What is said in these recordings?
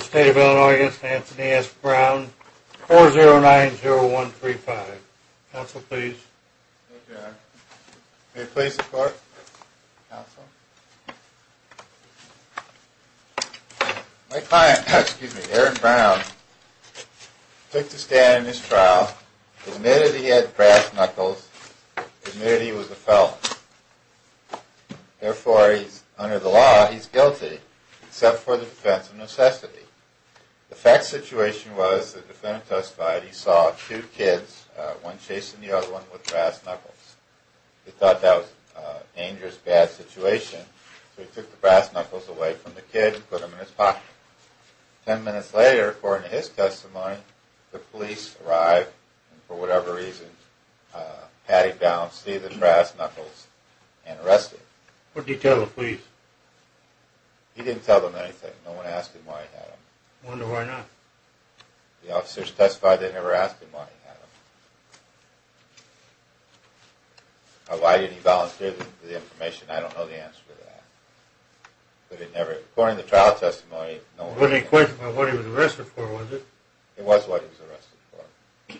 State of Illinois against Anthony S. Brown, 4090135. Counsel, please. Thank you, Eric. May it please the court? Counsel? My client, excuse me, Aaron Brown, took to stand in this trial, admitted he had brass knuckles, admitted he was a felon. Therefore, under the law, he's guilty, except for the defense of necessity. The fact of the situation was the defendant testified he saw two kids, one chasing the other one with brass knuckles. He thought that was a dangerous, bad situation, so he took the brass knuckles away from the kid and put them in his pocket. Ten minutes later, according to his testimony, the police arrived, and for whatever reason, patted down Steve with brass knuckles and arrested him. What did he tell the police? He didn't tell them anything. No one asked him why he had them. I wonder why not. The officers testified they never asked him why he had them. Why didn't he volunteer the information, I don't know the answer to that. According to the trial testimony... It wasn't a question of what he was arrested for, was it? It was what he was arrested for.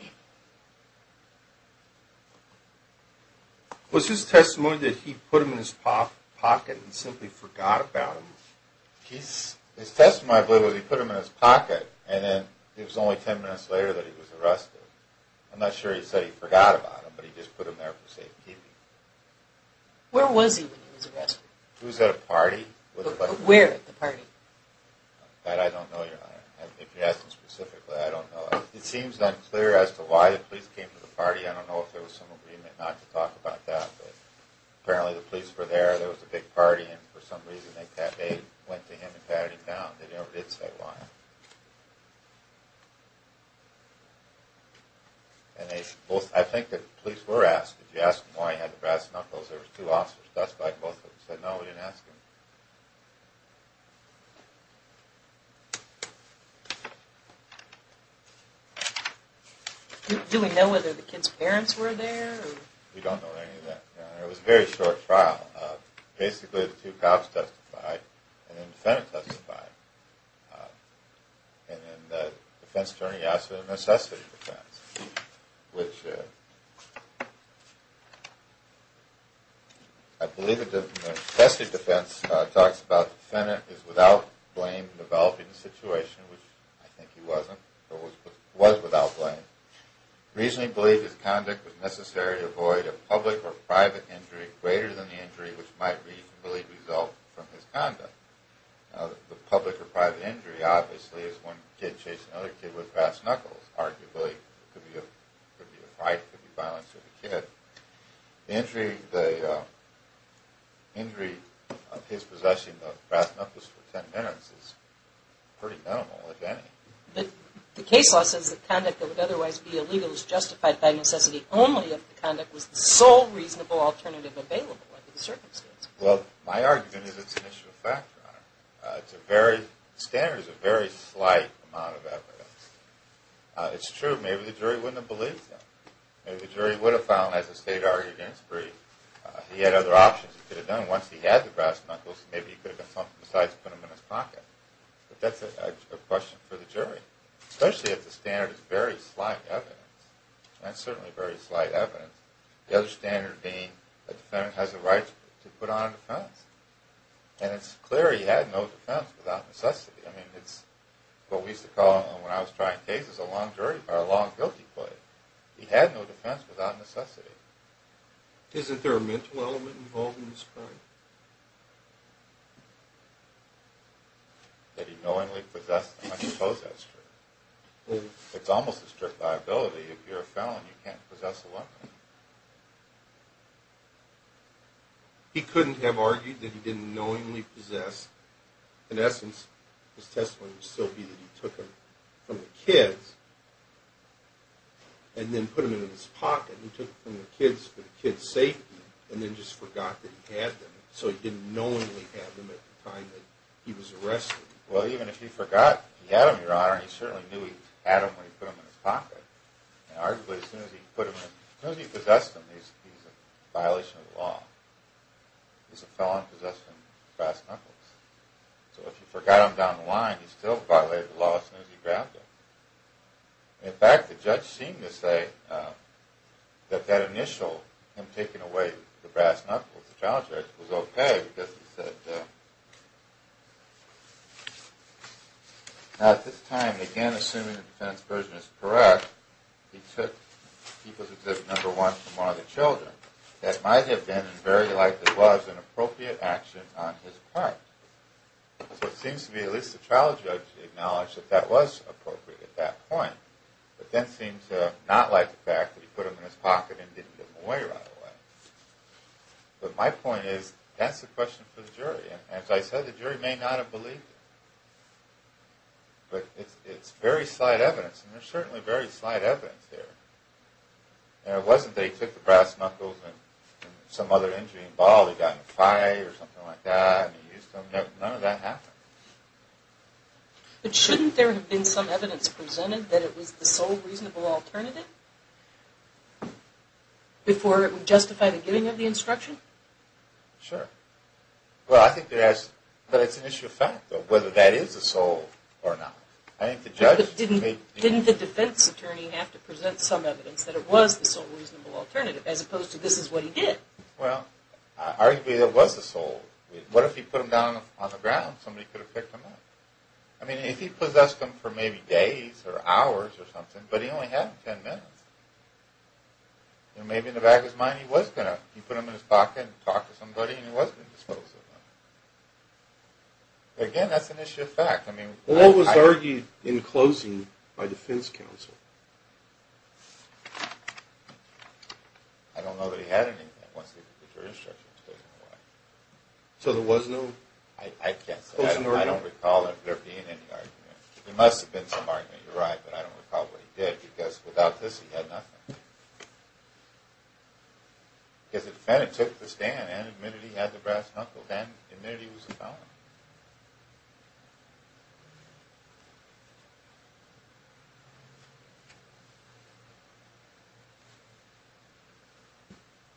Was his testimony that he put them in his pocket and simply forgot about them? His testimony, I believe, was he put them in his pocket, and then it was only ten minutes later that he was arrested. I'm not sure he said he forgot about them, but he just put them there for safekeeping. Where was he when he was arrested? He was at a party. Where at the party? That I don't know, Your Honor. If you ask me specifically, I don't know. It seems unclear as to why the police came to the party. I don't know if there was some agreement not to talk about that, but apparently the police were there, there was a big party, and for some reason they went to him and patted him down. They never did say why. And I think the police were asked, if you asked them why he had the brass knuckles, there were two officers. That's why both of them said no, they didn't ask him. Do we know whether the kid's parents were there? We don't know any of that, Your Honor. It was a very short trial. Basically the two cops testified, and then the defendant testified. And then the defense attorney asked for the necessity defense, which I believe the necessity defense talks about the defendant is without blame for developing the situation, which I think he wasn't, but was without blame. Reasoning believed his conduct was necessary to avoid a public or private injury greater than the injury which might reasonably result from his conduct. Now the public or private injury obviously is one kid chasing another kid with brass knuckles. Arguably it could be a fight, it could be violence with a kid. The injury of his possessing the brass knuckles for ten minutes is pretty minimal, if any. But the case law says that conduct that would otherwise be illegal is justified by necessity only if the conduct was the sole reasonable alternative available under the circumstances. Well, my argument is it's an issue of fact, Your Honor. The standard is a very slight amount of evidence. It's true, maybe the jury wouldn't have believed him. Maybe the jury would have found, as the state argued in its brief, he had other options he could have done once he had the brass knuckles. Maybe he could have done something besides put them in his pocket. But that's a question for the jury. Especially if the standard is very slight evidence. And it's certainly very slight evidence. The other standard being the defendant has a right to put on a defense. And it's clear he had no defense without necessity. I mean, it's what we used to call, when I was trying cases, a long guilty plea. He had no defense without necessity. Isn't there a mental element involved in this crime? That he knowingly possessed them. I suppose that's true. It's almost a strict liability. If you're a felon, you can't possess a lawyer. He couldn't have argued that he didn't knowingly possess. In essence, his testimony would still be that he took them from the kids and then put them in his pocket. He took them from the kids for the kids' safety and then just forgot that he had them. So he didn't knowingly have them at the time that he was arrested. Well, even if he forgot he had them, your honor, he certainly knew he had them when he put them in his pocket. Arguably, as soon as he possessed them, he's a violation of the law. He's a felon possessing brass knuckles. So if he forgot them down the line, he still violated the law as soon as he grabbed them. In fact, the judge seemed to say that that initial, him taking away the brass knuckles, the trial judge, was okay because he said, Now at this time, again assuming the defense version is correct, he took people's exhibit number one from one of the children. That might have been, very likely was, an appropriate action on his part. So it seems to me at least the trial judge acknowledged that that was appropriate at that point. But then seemed to not like the fact that he put them in his pocket and didn't give them away right away. But my point is, that's the question for the jury. And as I said, the jury may not have believed him. But it's very slight evidence, and there's certainly very slight evidence there. It wasn't that he took the brass knuckles and some other injury involved. He got in a fight or something like that. None of that happened. But shouldn't there have been some evidence presented that it was the sole reasonable alternative? Before it would justify the giving of the instruction? Sure. Well, I think it has, but it's an issue of fact though, whether that is the sole or not. Didn't the defense attorney have to present some evidence that it was the sole reasonable alternative, as opposed to this is what he did? Well, arguably it was the sole. What if he put them down on the ground? Somebody could have picked them up. I mean, if he possessed them for maybe days or hours or something, but he only had them ten minutes. Maybe in the back of his mind he was going to put them in his pocket and talk to somebody, and he was going to dispose of them. Again, that's an issue of fact. Well, what was argued in closing by defense counsel? I don't know that he had anything. So there was no closing argument? I can't say. I don't recall there being any argument. There must have been some argument, you're right, but I don't recall what he did, because without this he had nothing. Because the defendant took the stand and admitted he had the brass knuckles and admitted he was a felon.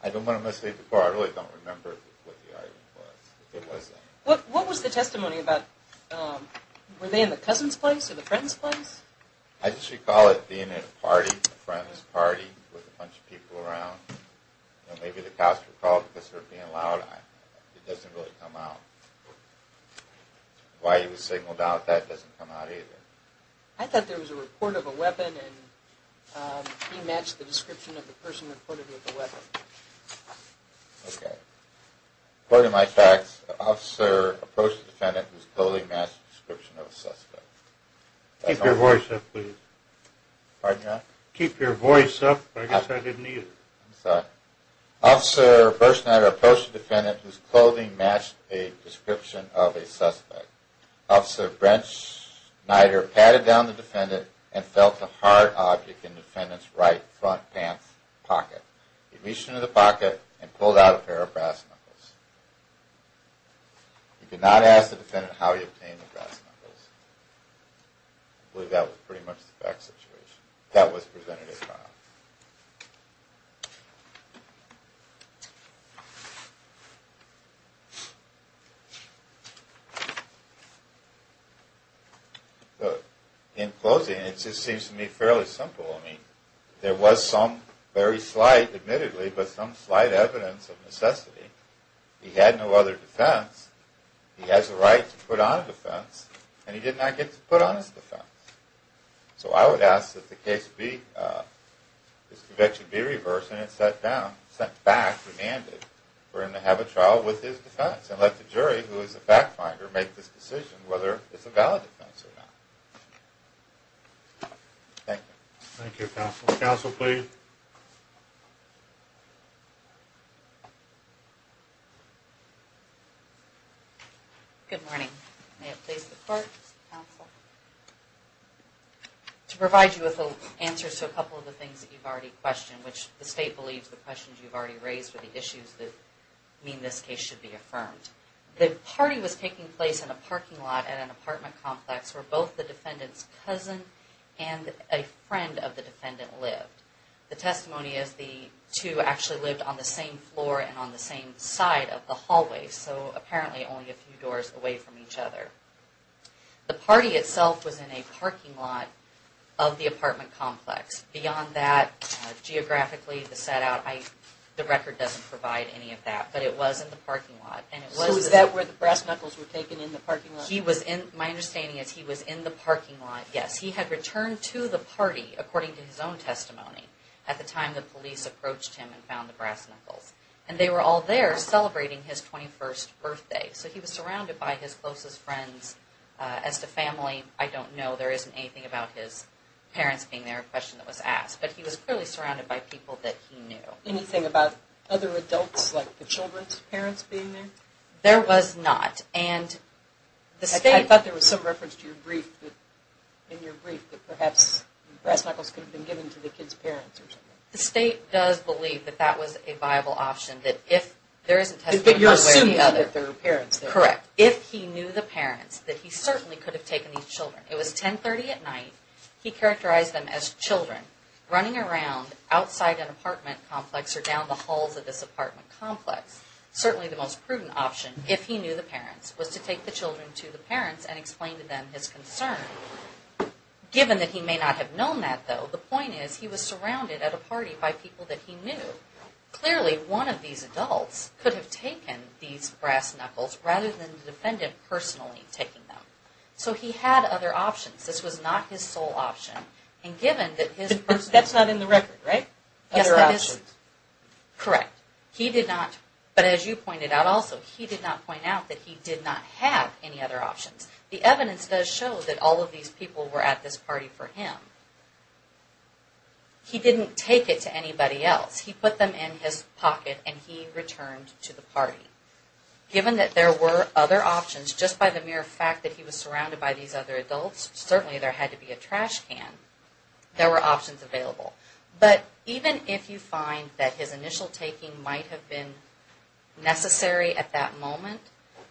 I don't want to mislead the court. I really don't remember what the argument was. What was the testimony about, were they in the cousin's place or the friend's place? I just recall it being at a party, a friend's party, with a bunch of people around. Maybe the cops were called because they were being loud. It doesn't really come out. Why he was signaled out, that doesn't come out either. I thought there was a report of a weapon and he matched the description of the person reported with the weapon. Okay. According to my facts, the officer approached the defendant who's totally matched the description of a suspect. Keep your voice up, please. Keep your voice up? I guess I didn't hear you. I'm sorry. Officer Berschneider approached the defendant whose clothing matched a description of a suspect. Officer Berschneider patted down the defendant and felt the hard object in the defendant's right front pant pocket. He reached into the pocket and pulled out a pair of brass knuckles. He did not ask the defendant how he obtained the brass knuckles. I believe that was pretty much the fact situation. That was presented at trial. In closing, it just seems to me fairly simple. I mean, there was some very slight, admittedly, but some slight evidence of necessity. He had no other defense. He has the right to put on a defense. And he did not get to put on his defense. So I would ask that the case be, this conviction be reversed and it sat down, sent back, remanded, for him to have a trial with his defense and let the jury, who is the fact finder, make this decision whether it's a valid defense or not. Thank you. Thank you, counsel. Counsel, please. Good morning. May it please the court, counsel. To provide you with answers to a couple of the things that you've already questioned, which the state believes the questions you've already raised are the issues that mean this case should be affirmed. The party was taking place in a parking lot at an apartment complex where both the defendant's cousin and a friend of the defendant lived. The testimony is the two actually lived on the same floor and on the same side of the hallway, so apparently only a few doors away from each other. The party itself was in a parking lot of the apartment complex. Beyond that, geographically, the set out, the record doesn't provide any of that. But it was in the parking lot. So was that where the brass knuckles were taken in the parking lot? My understanding is he was in the parking lot, yes. He had returned to the party, according to his own testimony, at the time the police approached him and found the brass knuckles. And they were all there celebrating his 21st birthday. So he was surrounded by his closest friends. As to family, I don't know. There isn't anything about his parents being there, a question that was asked. But he was clearly surrounded by people that he knew. Did you know anything about other adults, like the children's parents being there? There was not. I thought there was some reference to your brief, that perhaps brass knuckles could have been given to the kids' parents or something. The state does believe that that was a viable option. But you're assuming that there were parents there. Correct. If he knew the parents, that he certainly could have taken these children. It was 10.30 at night. He characterized them as children running around outside an apartment complex or down the halls of this apartment complex. Certainly the most prudent option, if he knew the parents, was to take the children to the parents and explain to them his concern. Given that he may not have known that, though, the point is he was surrounded at a party by people that he knew. Clearly, one of these adults could have taken these brass knuckles rather than the defendant personally taking them. So he had other options. This was not his sole option. That's not in the record, right? Correct. But as you pointed out also, he did not point out that he did not have any other options. The evidence does show that all of these people were at this party for him. He didn't take it to anybody else. He put them in his pocket and he returned to the party. Given that there were other options, just by the mere fact that he was surrounded by these other adults, certainly there had to be a trash can, there were options available. But even if you find that his initial taking might have been necessary at that moment,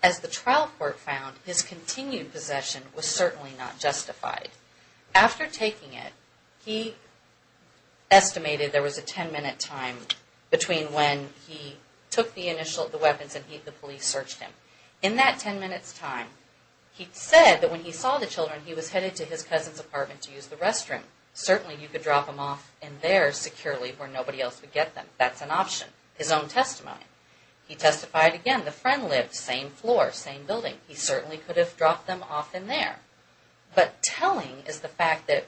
as the trial court found, his continued possession was certainly not justified. After taking it, he estimated there was a 10-minute time between when he took the initial weapons and the police searched him. In that 10 minutes time, he said that when he saw the children, he was headed to his cousin's apartment to use the restroom. Certainly you could drop them off in there securely where nobody else would get them. That's an option. His own testimony. He testified again. The friend lived same floor, same building. He certainly could have dropped them off in there. But telling is the fact that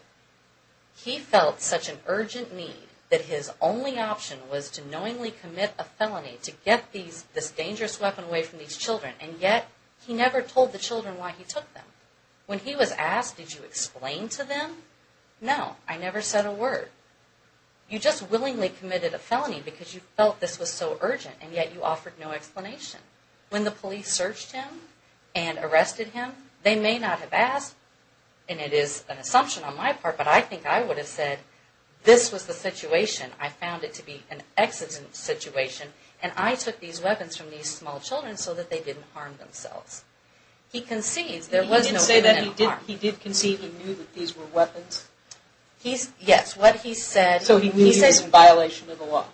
he felt such an urgent need that his only option was to knowingly commit a felony to get this dangerous weapon away from these children, and yet he never told the children why he took them. When he was asked, did you explain to them? No. I never said a word. You just willingly committed a felony because you felt this was so urgent, and yet you offered no explanation. When the police searched him and arrested him, they may not have asked, and it is an assumption on my part, but I think I would have said, this was the situation. I found it to be an accident situation, and I took these weapons from these small children so that they didn't harm themselves. He concedes there was no imminent harm. He did concede he knew that these were weapons? Yes. What he said... So he knew he was in violation of the law?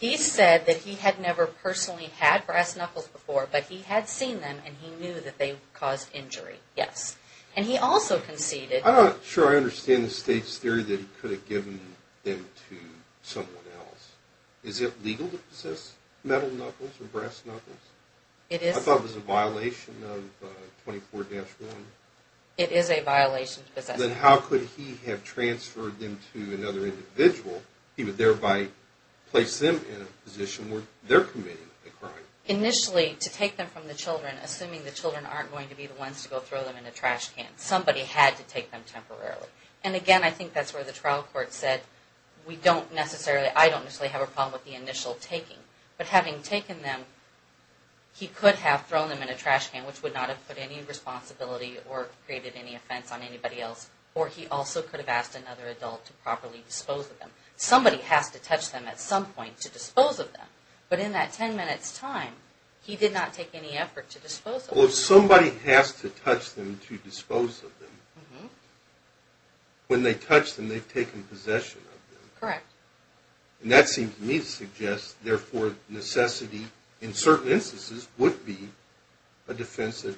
He said that he had never personally had brass knuckles before, but he had seen them and he knew that they caused injury. Yes. And he also conceded... I'm not sure I understand the State's theory that he could have given them to someone else. Is it legal to possess metal knuckles or brass knuckles? I thought it was a violation of 24-1. It is a violation to possess them. Then how could he have transferred them to another individual? He would thereby place them in a position where they're committing a crime. Initially, to take them from the children, assuming the children aren't going to be the ones to go throw them in a trash can, somebody had to take them temporarily. And again, I think that's where the trial court said, I don't necessarily have a problem with the initial taking. But having taken them, he could have thrown them in a trash can, which would not have put any responsibility or created any offense on anybody else. Or he also could have asked another adult to properly dispose of them. Somebody has to touch them at some point to dispose of them. But in that 10 minutes' time, he did not take any effort to dispose of them. Well, if somebody has to touch them to dispose of them, when they touch them, they've taken possession of them. Correct. And that seems to me to suggest, therefore, necessity in certain instances would be a defense that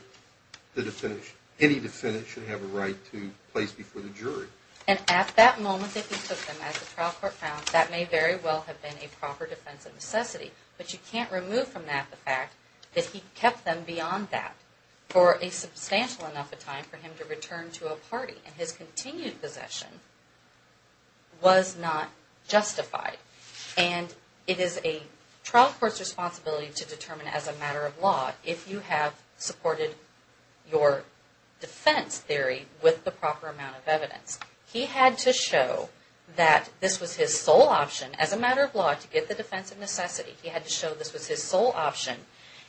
any defendant should have a right to place before the jury. And at that moment that he took them, as the trial court found, that may very well have been a proper defense of necessity. But you can't remove from that the fact that he kept them beyond that for a substantial enough a time for him to return to a party. And his continued possession was not justified. And it is a trial court's responsibility to determine as a matter of law if you have supported your defense theory with the proper amount of evidence. He had to show that this was his sole option as a matter of law to get the defense of necessity. He had to show this was his sole option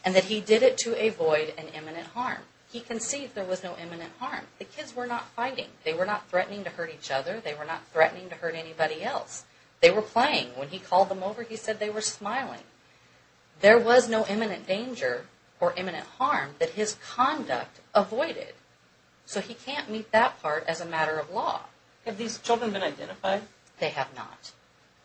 and that he did it to avoid an imminent harm. He conceived there was no imminent harm. The kids were not fighting. They were not threatening to hurt each other. They were not threatening to hurt anybody else. They were playing. When he called them over, he said they were smiling. There was no imminent danger or imminent harm that his conduct avoided. So he can't meet that part as a matter of law. Have these children been identified? They have not.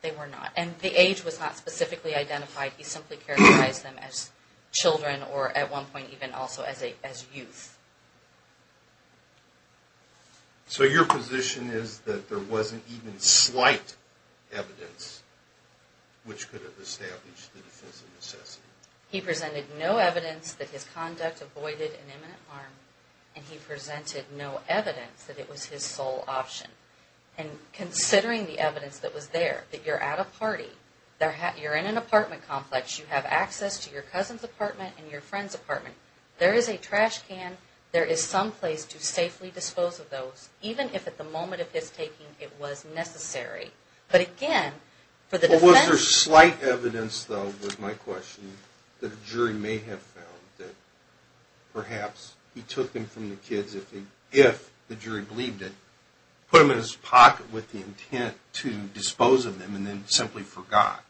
They were not. And the age was not specifically identified. He simply characterized them as children or at one point even also as youth. So your position is that there wasn't even slight evidence which could have established the defense of necessity? He presented no evidence that his conduct avoided an imminent harm, and he presented no evidence that it was his sole option. And considering the evidence that was there, that you're at a party, you're in an apartment complex, you have access to your cousin's apartment and your friend's apartment, there is a trash can, there is some place to safely dispose of those, even if at the moment of his taking it was necessary. But again, for the defense... Was there slight evidence, though, was my question, that a jury may have found that perhaps he took them from the kids if the jury believed it, put them in his pocket with the intent to dispose of them, and then simply forgot?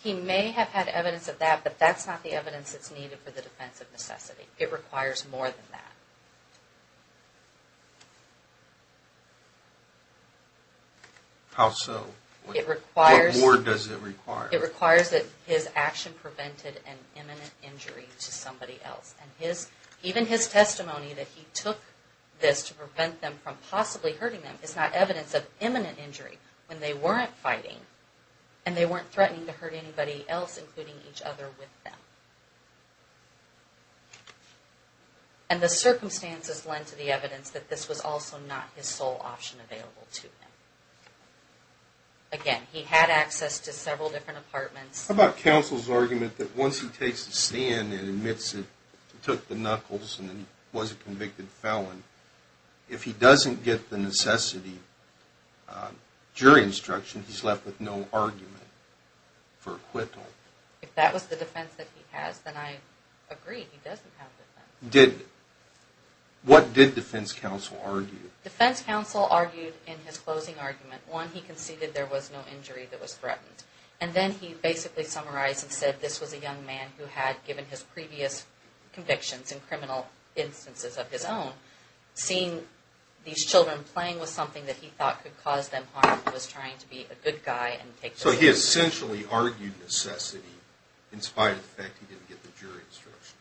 He may have had evidence of that, but that's not the evidence that's needed for the defense of necessity. It requires more than that. How so? What more does it require? It requires that his action prevented an imminent injury to somebody else. And even his testimony that he took this to prevent them from possibly hurting them is not evidence of imminent injury when they weren't fighting and they weren't threatening to hurt anybody else, including each other with them. And the circumstances lend to the evidence that this was also not his sole option available to him. Again, he had access to several different apartments. How about counsel's argument that once he takes a stand and admits he took the knuckles and was a convicted felon, if he doesn't get the necessity jury instruction, he's left with no argument for acquittal? If that was the defense that he has, then I agree. He doesn't have defense. What did defense counsel argue? Defense counsel argued in his closing argument, one, he conceded there was no injury that was threatened. And then he basically summarized and said this was a young man who had given his previous convictions in criminal instances of his own. Seeing these children playing with something that he thought could cause them harm, he was trying to be a good guy and take the risk. So he essentially argued necessity in spite of the fact he didn't get the jury instruction.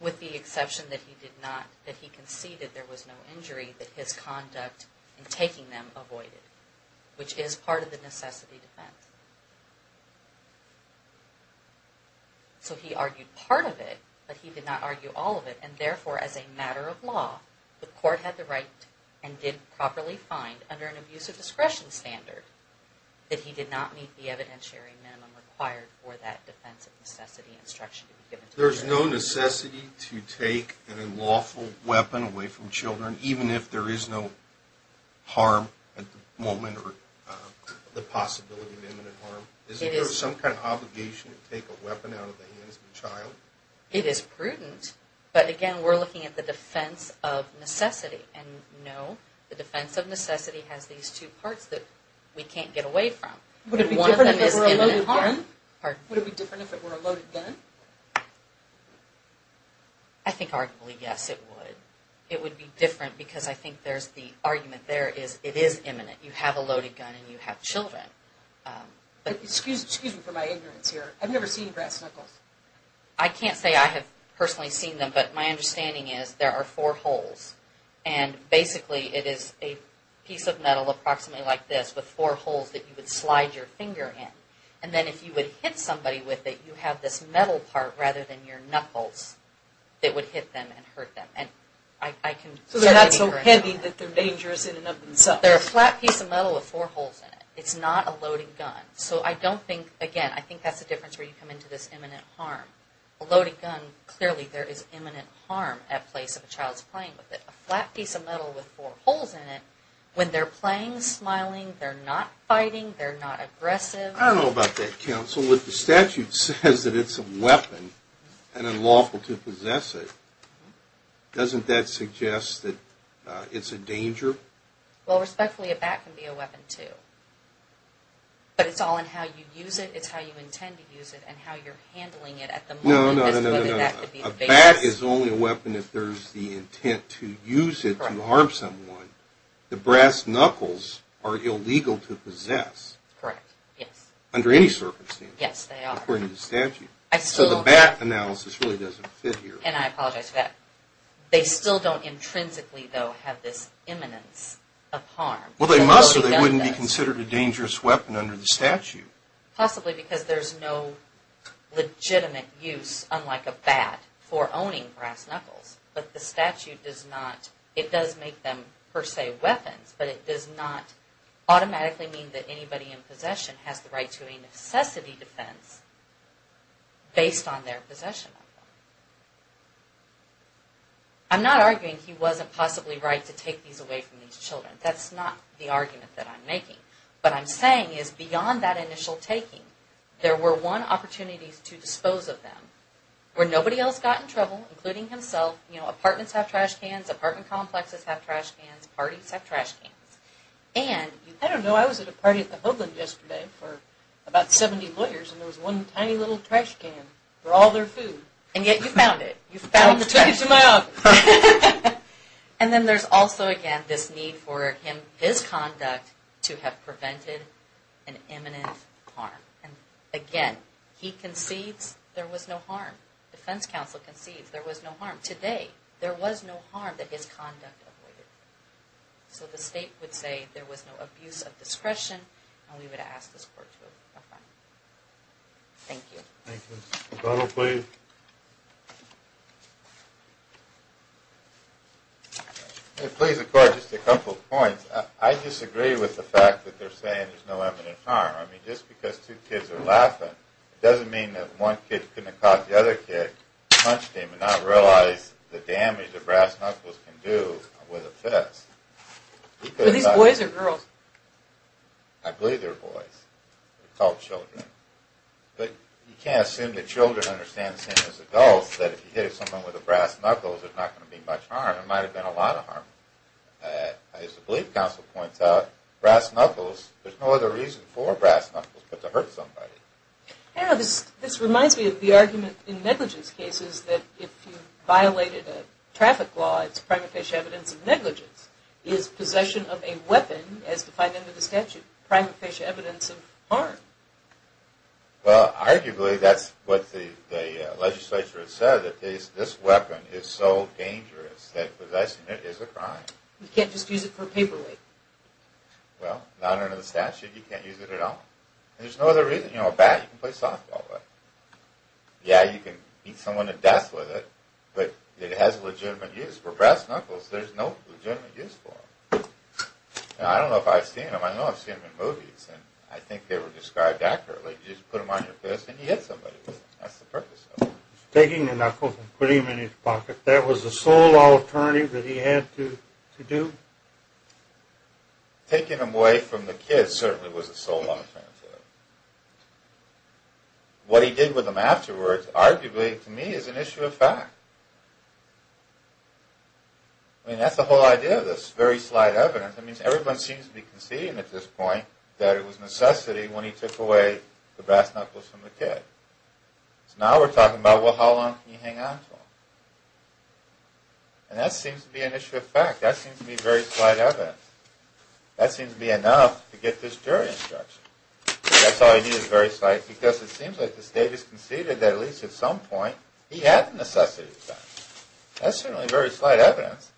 With the exception that he did not, that he conceded there was no injury, that his conduct in taking them avoided, which is part of the necessity defense. So he argued part of it, but he did not argue all of it. And therefore, as a matter of law, the court had the right and did properly find under an abuser discretion standard that he did not meet the evidentiary minimum required for that defense of necessity instruction to be given to children. There's no necessity to take an unlawful weapon away from children, even if there is no harm at the moment or the possibility of imminent harm? Is there some kind of obligation to take a weapon out of the hands of a child? It is prudent. But again, we're looking at the defense of necessity. And no, the defense of necessity has these two parts that we can't get away from. Would it be different if it were a loaded gun? I think arguably, yes, it would. It would be different because I think there's the argument there is it is imminent. You have a loaded gun and you have children. Excuse me for my ignorance here. I've never seen brass knuckles. I can't say I have personally seen them, but my understanding is there are four holes. And basically, it is a piece of metal approximately like this with four holes that you would slide your finger in. And then if you would hit somebody with it, you have this metal part rather than your knuckles that would hit them and hurt them. So that's so handy that they're dangerous in and of themselves. They're a flat piece of metal with four holes in it. It's not a loaded gun. So I don't think, again, I think that's the difference where you come into this imminent harm. A loaded gun, clearly there is imminent harm at the place of a child's playing with it. A flat piece of metal with four holes in it, when they're playing, smiling, they're not fighting, they're not aggressive. I don't know about that, counsel. Well, if the statute says that it's a weapon and unlawful to possess it, doesn't that suggest that it's a danger? Well, respectfully, a bat can be a weapon, too. But it's all in how you use it, it's how you intend to use it, and how you're handling it at the moment. No, no, no, no, no. A bat is only a weapon if there's the intent to use it to harm someone. The brass knuckles are illegal to possess. Correct, yes. Under any circumstance. Yes, they are. According to the statute. So the bat analysis really doesn't fit here. And I apologize for that. They still don't intrinsically, though, have this imminence of harm. Well, they must, or they wouldn't be considered a dangerous weapon under the statute. Possibly because there's no legitimate use, unlike a bat, for owning brass knuckles. But the statute does not, it does make them, per se, weapons, but it does not automatically mean that anybody in possession has the right to a necessity defense based on their possession of them. I'm not arguing he wasn't possibly right to take these away from these children. That's not the argument that I'm making. What I'm saying is beyond that initial taking, there were, one, opportunities to dispose of them, where nobody else got in trouble, including himself. You know, apartments have trash cans, apartment complexes have trash cans, parties have trash cans. And, I don't know, I was at a party at the Hoagland yesterday for about 70 lawyers, and there was one tiny little trash can for all their food. And yet you found it. You found the trash can. Don't take it out. And then there's also, again, this need for him, his conduct, to have prevented an imminent harm. And, again, he concedes there was no harm. Defense counsel concedes there was no harm. Today, there was no harm that his conduct avoided. So the state would say there was no abuse of discretion, and we would ask this court to approve. Thank you. Thank you. Donald, please. Please, the court, just a couple points. I disagree with the fact that they're saying there's no imminent harm. I mean, just because two kids are laughing, it doesn't mean that one kid couldn't have caught the other kid, punched him, and not realize the damage that brass knuckles can do with a fist. Are these boys or girls? I believe they're boys. They're called children. But you can't assume that children understand the same as adults, that if you hit someone with a brass knuckle, there's not going to be much harm. There might have been a lot of harm. As the belief counsel points out, brass knuckles, there's no other reason for brass knuckles but to hurt somebody. This reminds me of the argument in negligence cases that if you violated a traffic law, it's prima facie evidence of negligence. Is possession of a weapon, as defined under the statute, prima facie evidence of harm? Well, arguably, that's what the legislature has said, that this weapon is so dangerous that possessing it is a crime. You can't just use it for paperweight. Well, not under the statute, you can't use it at all. There's no other reason. You know, a bat, you can play softball with. Yeah, you can beat someone to death with it, but it has legitimate use. For brass knuckles, there's no legitimate use for them. Now, I don't know if I've seen them. I know I've seen them in movies, and I think they were described accurately. You just put them on your fist, and you hit somebody with them. That's the purpose of them. Taking the knuckles and putting them in his pocket, that was the sole alternative that he had to do? Taking them away from the kid certainly was the sole alternative. What he did with them afterwards, arguably, to me, is an issue of fact. I mean, that's the whole idea of this, very slight evidence. I mean, everyone seems to be conceding at this point that it was necessity when he took away the brass knuckles from the kid. So now we're talking about, well, how long can you hang on to them? And that seems to be an issue of fact. That seems to be very slight evidence. That seems to be enough to get this jury instruction. That's all you need is very slight, because it seems like the state has conceded that, at least at some point, he had the necessity to do that. That's certainly very slight evidence.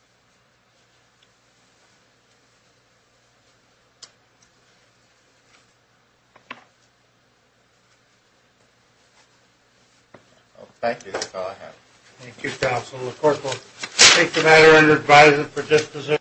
Well, thank you. That's all I have. Thank you, counsel. The court will take the matter under advisory for disposition.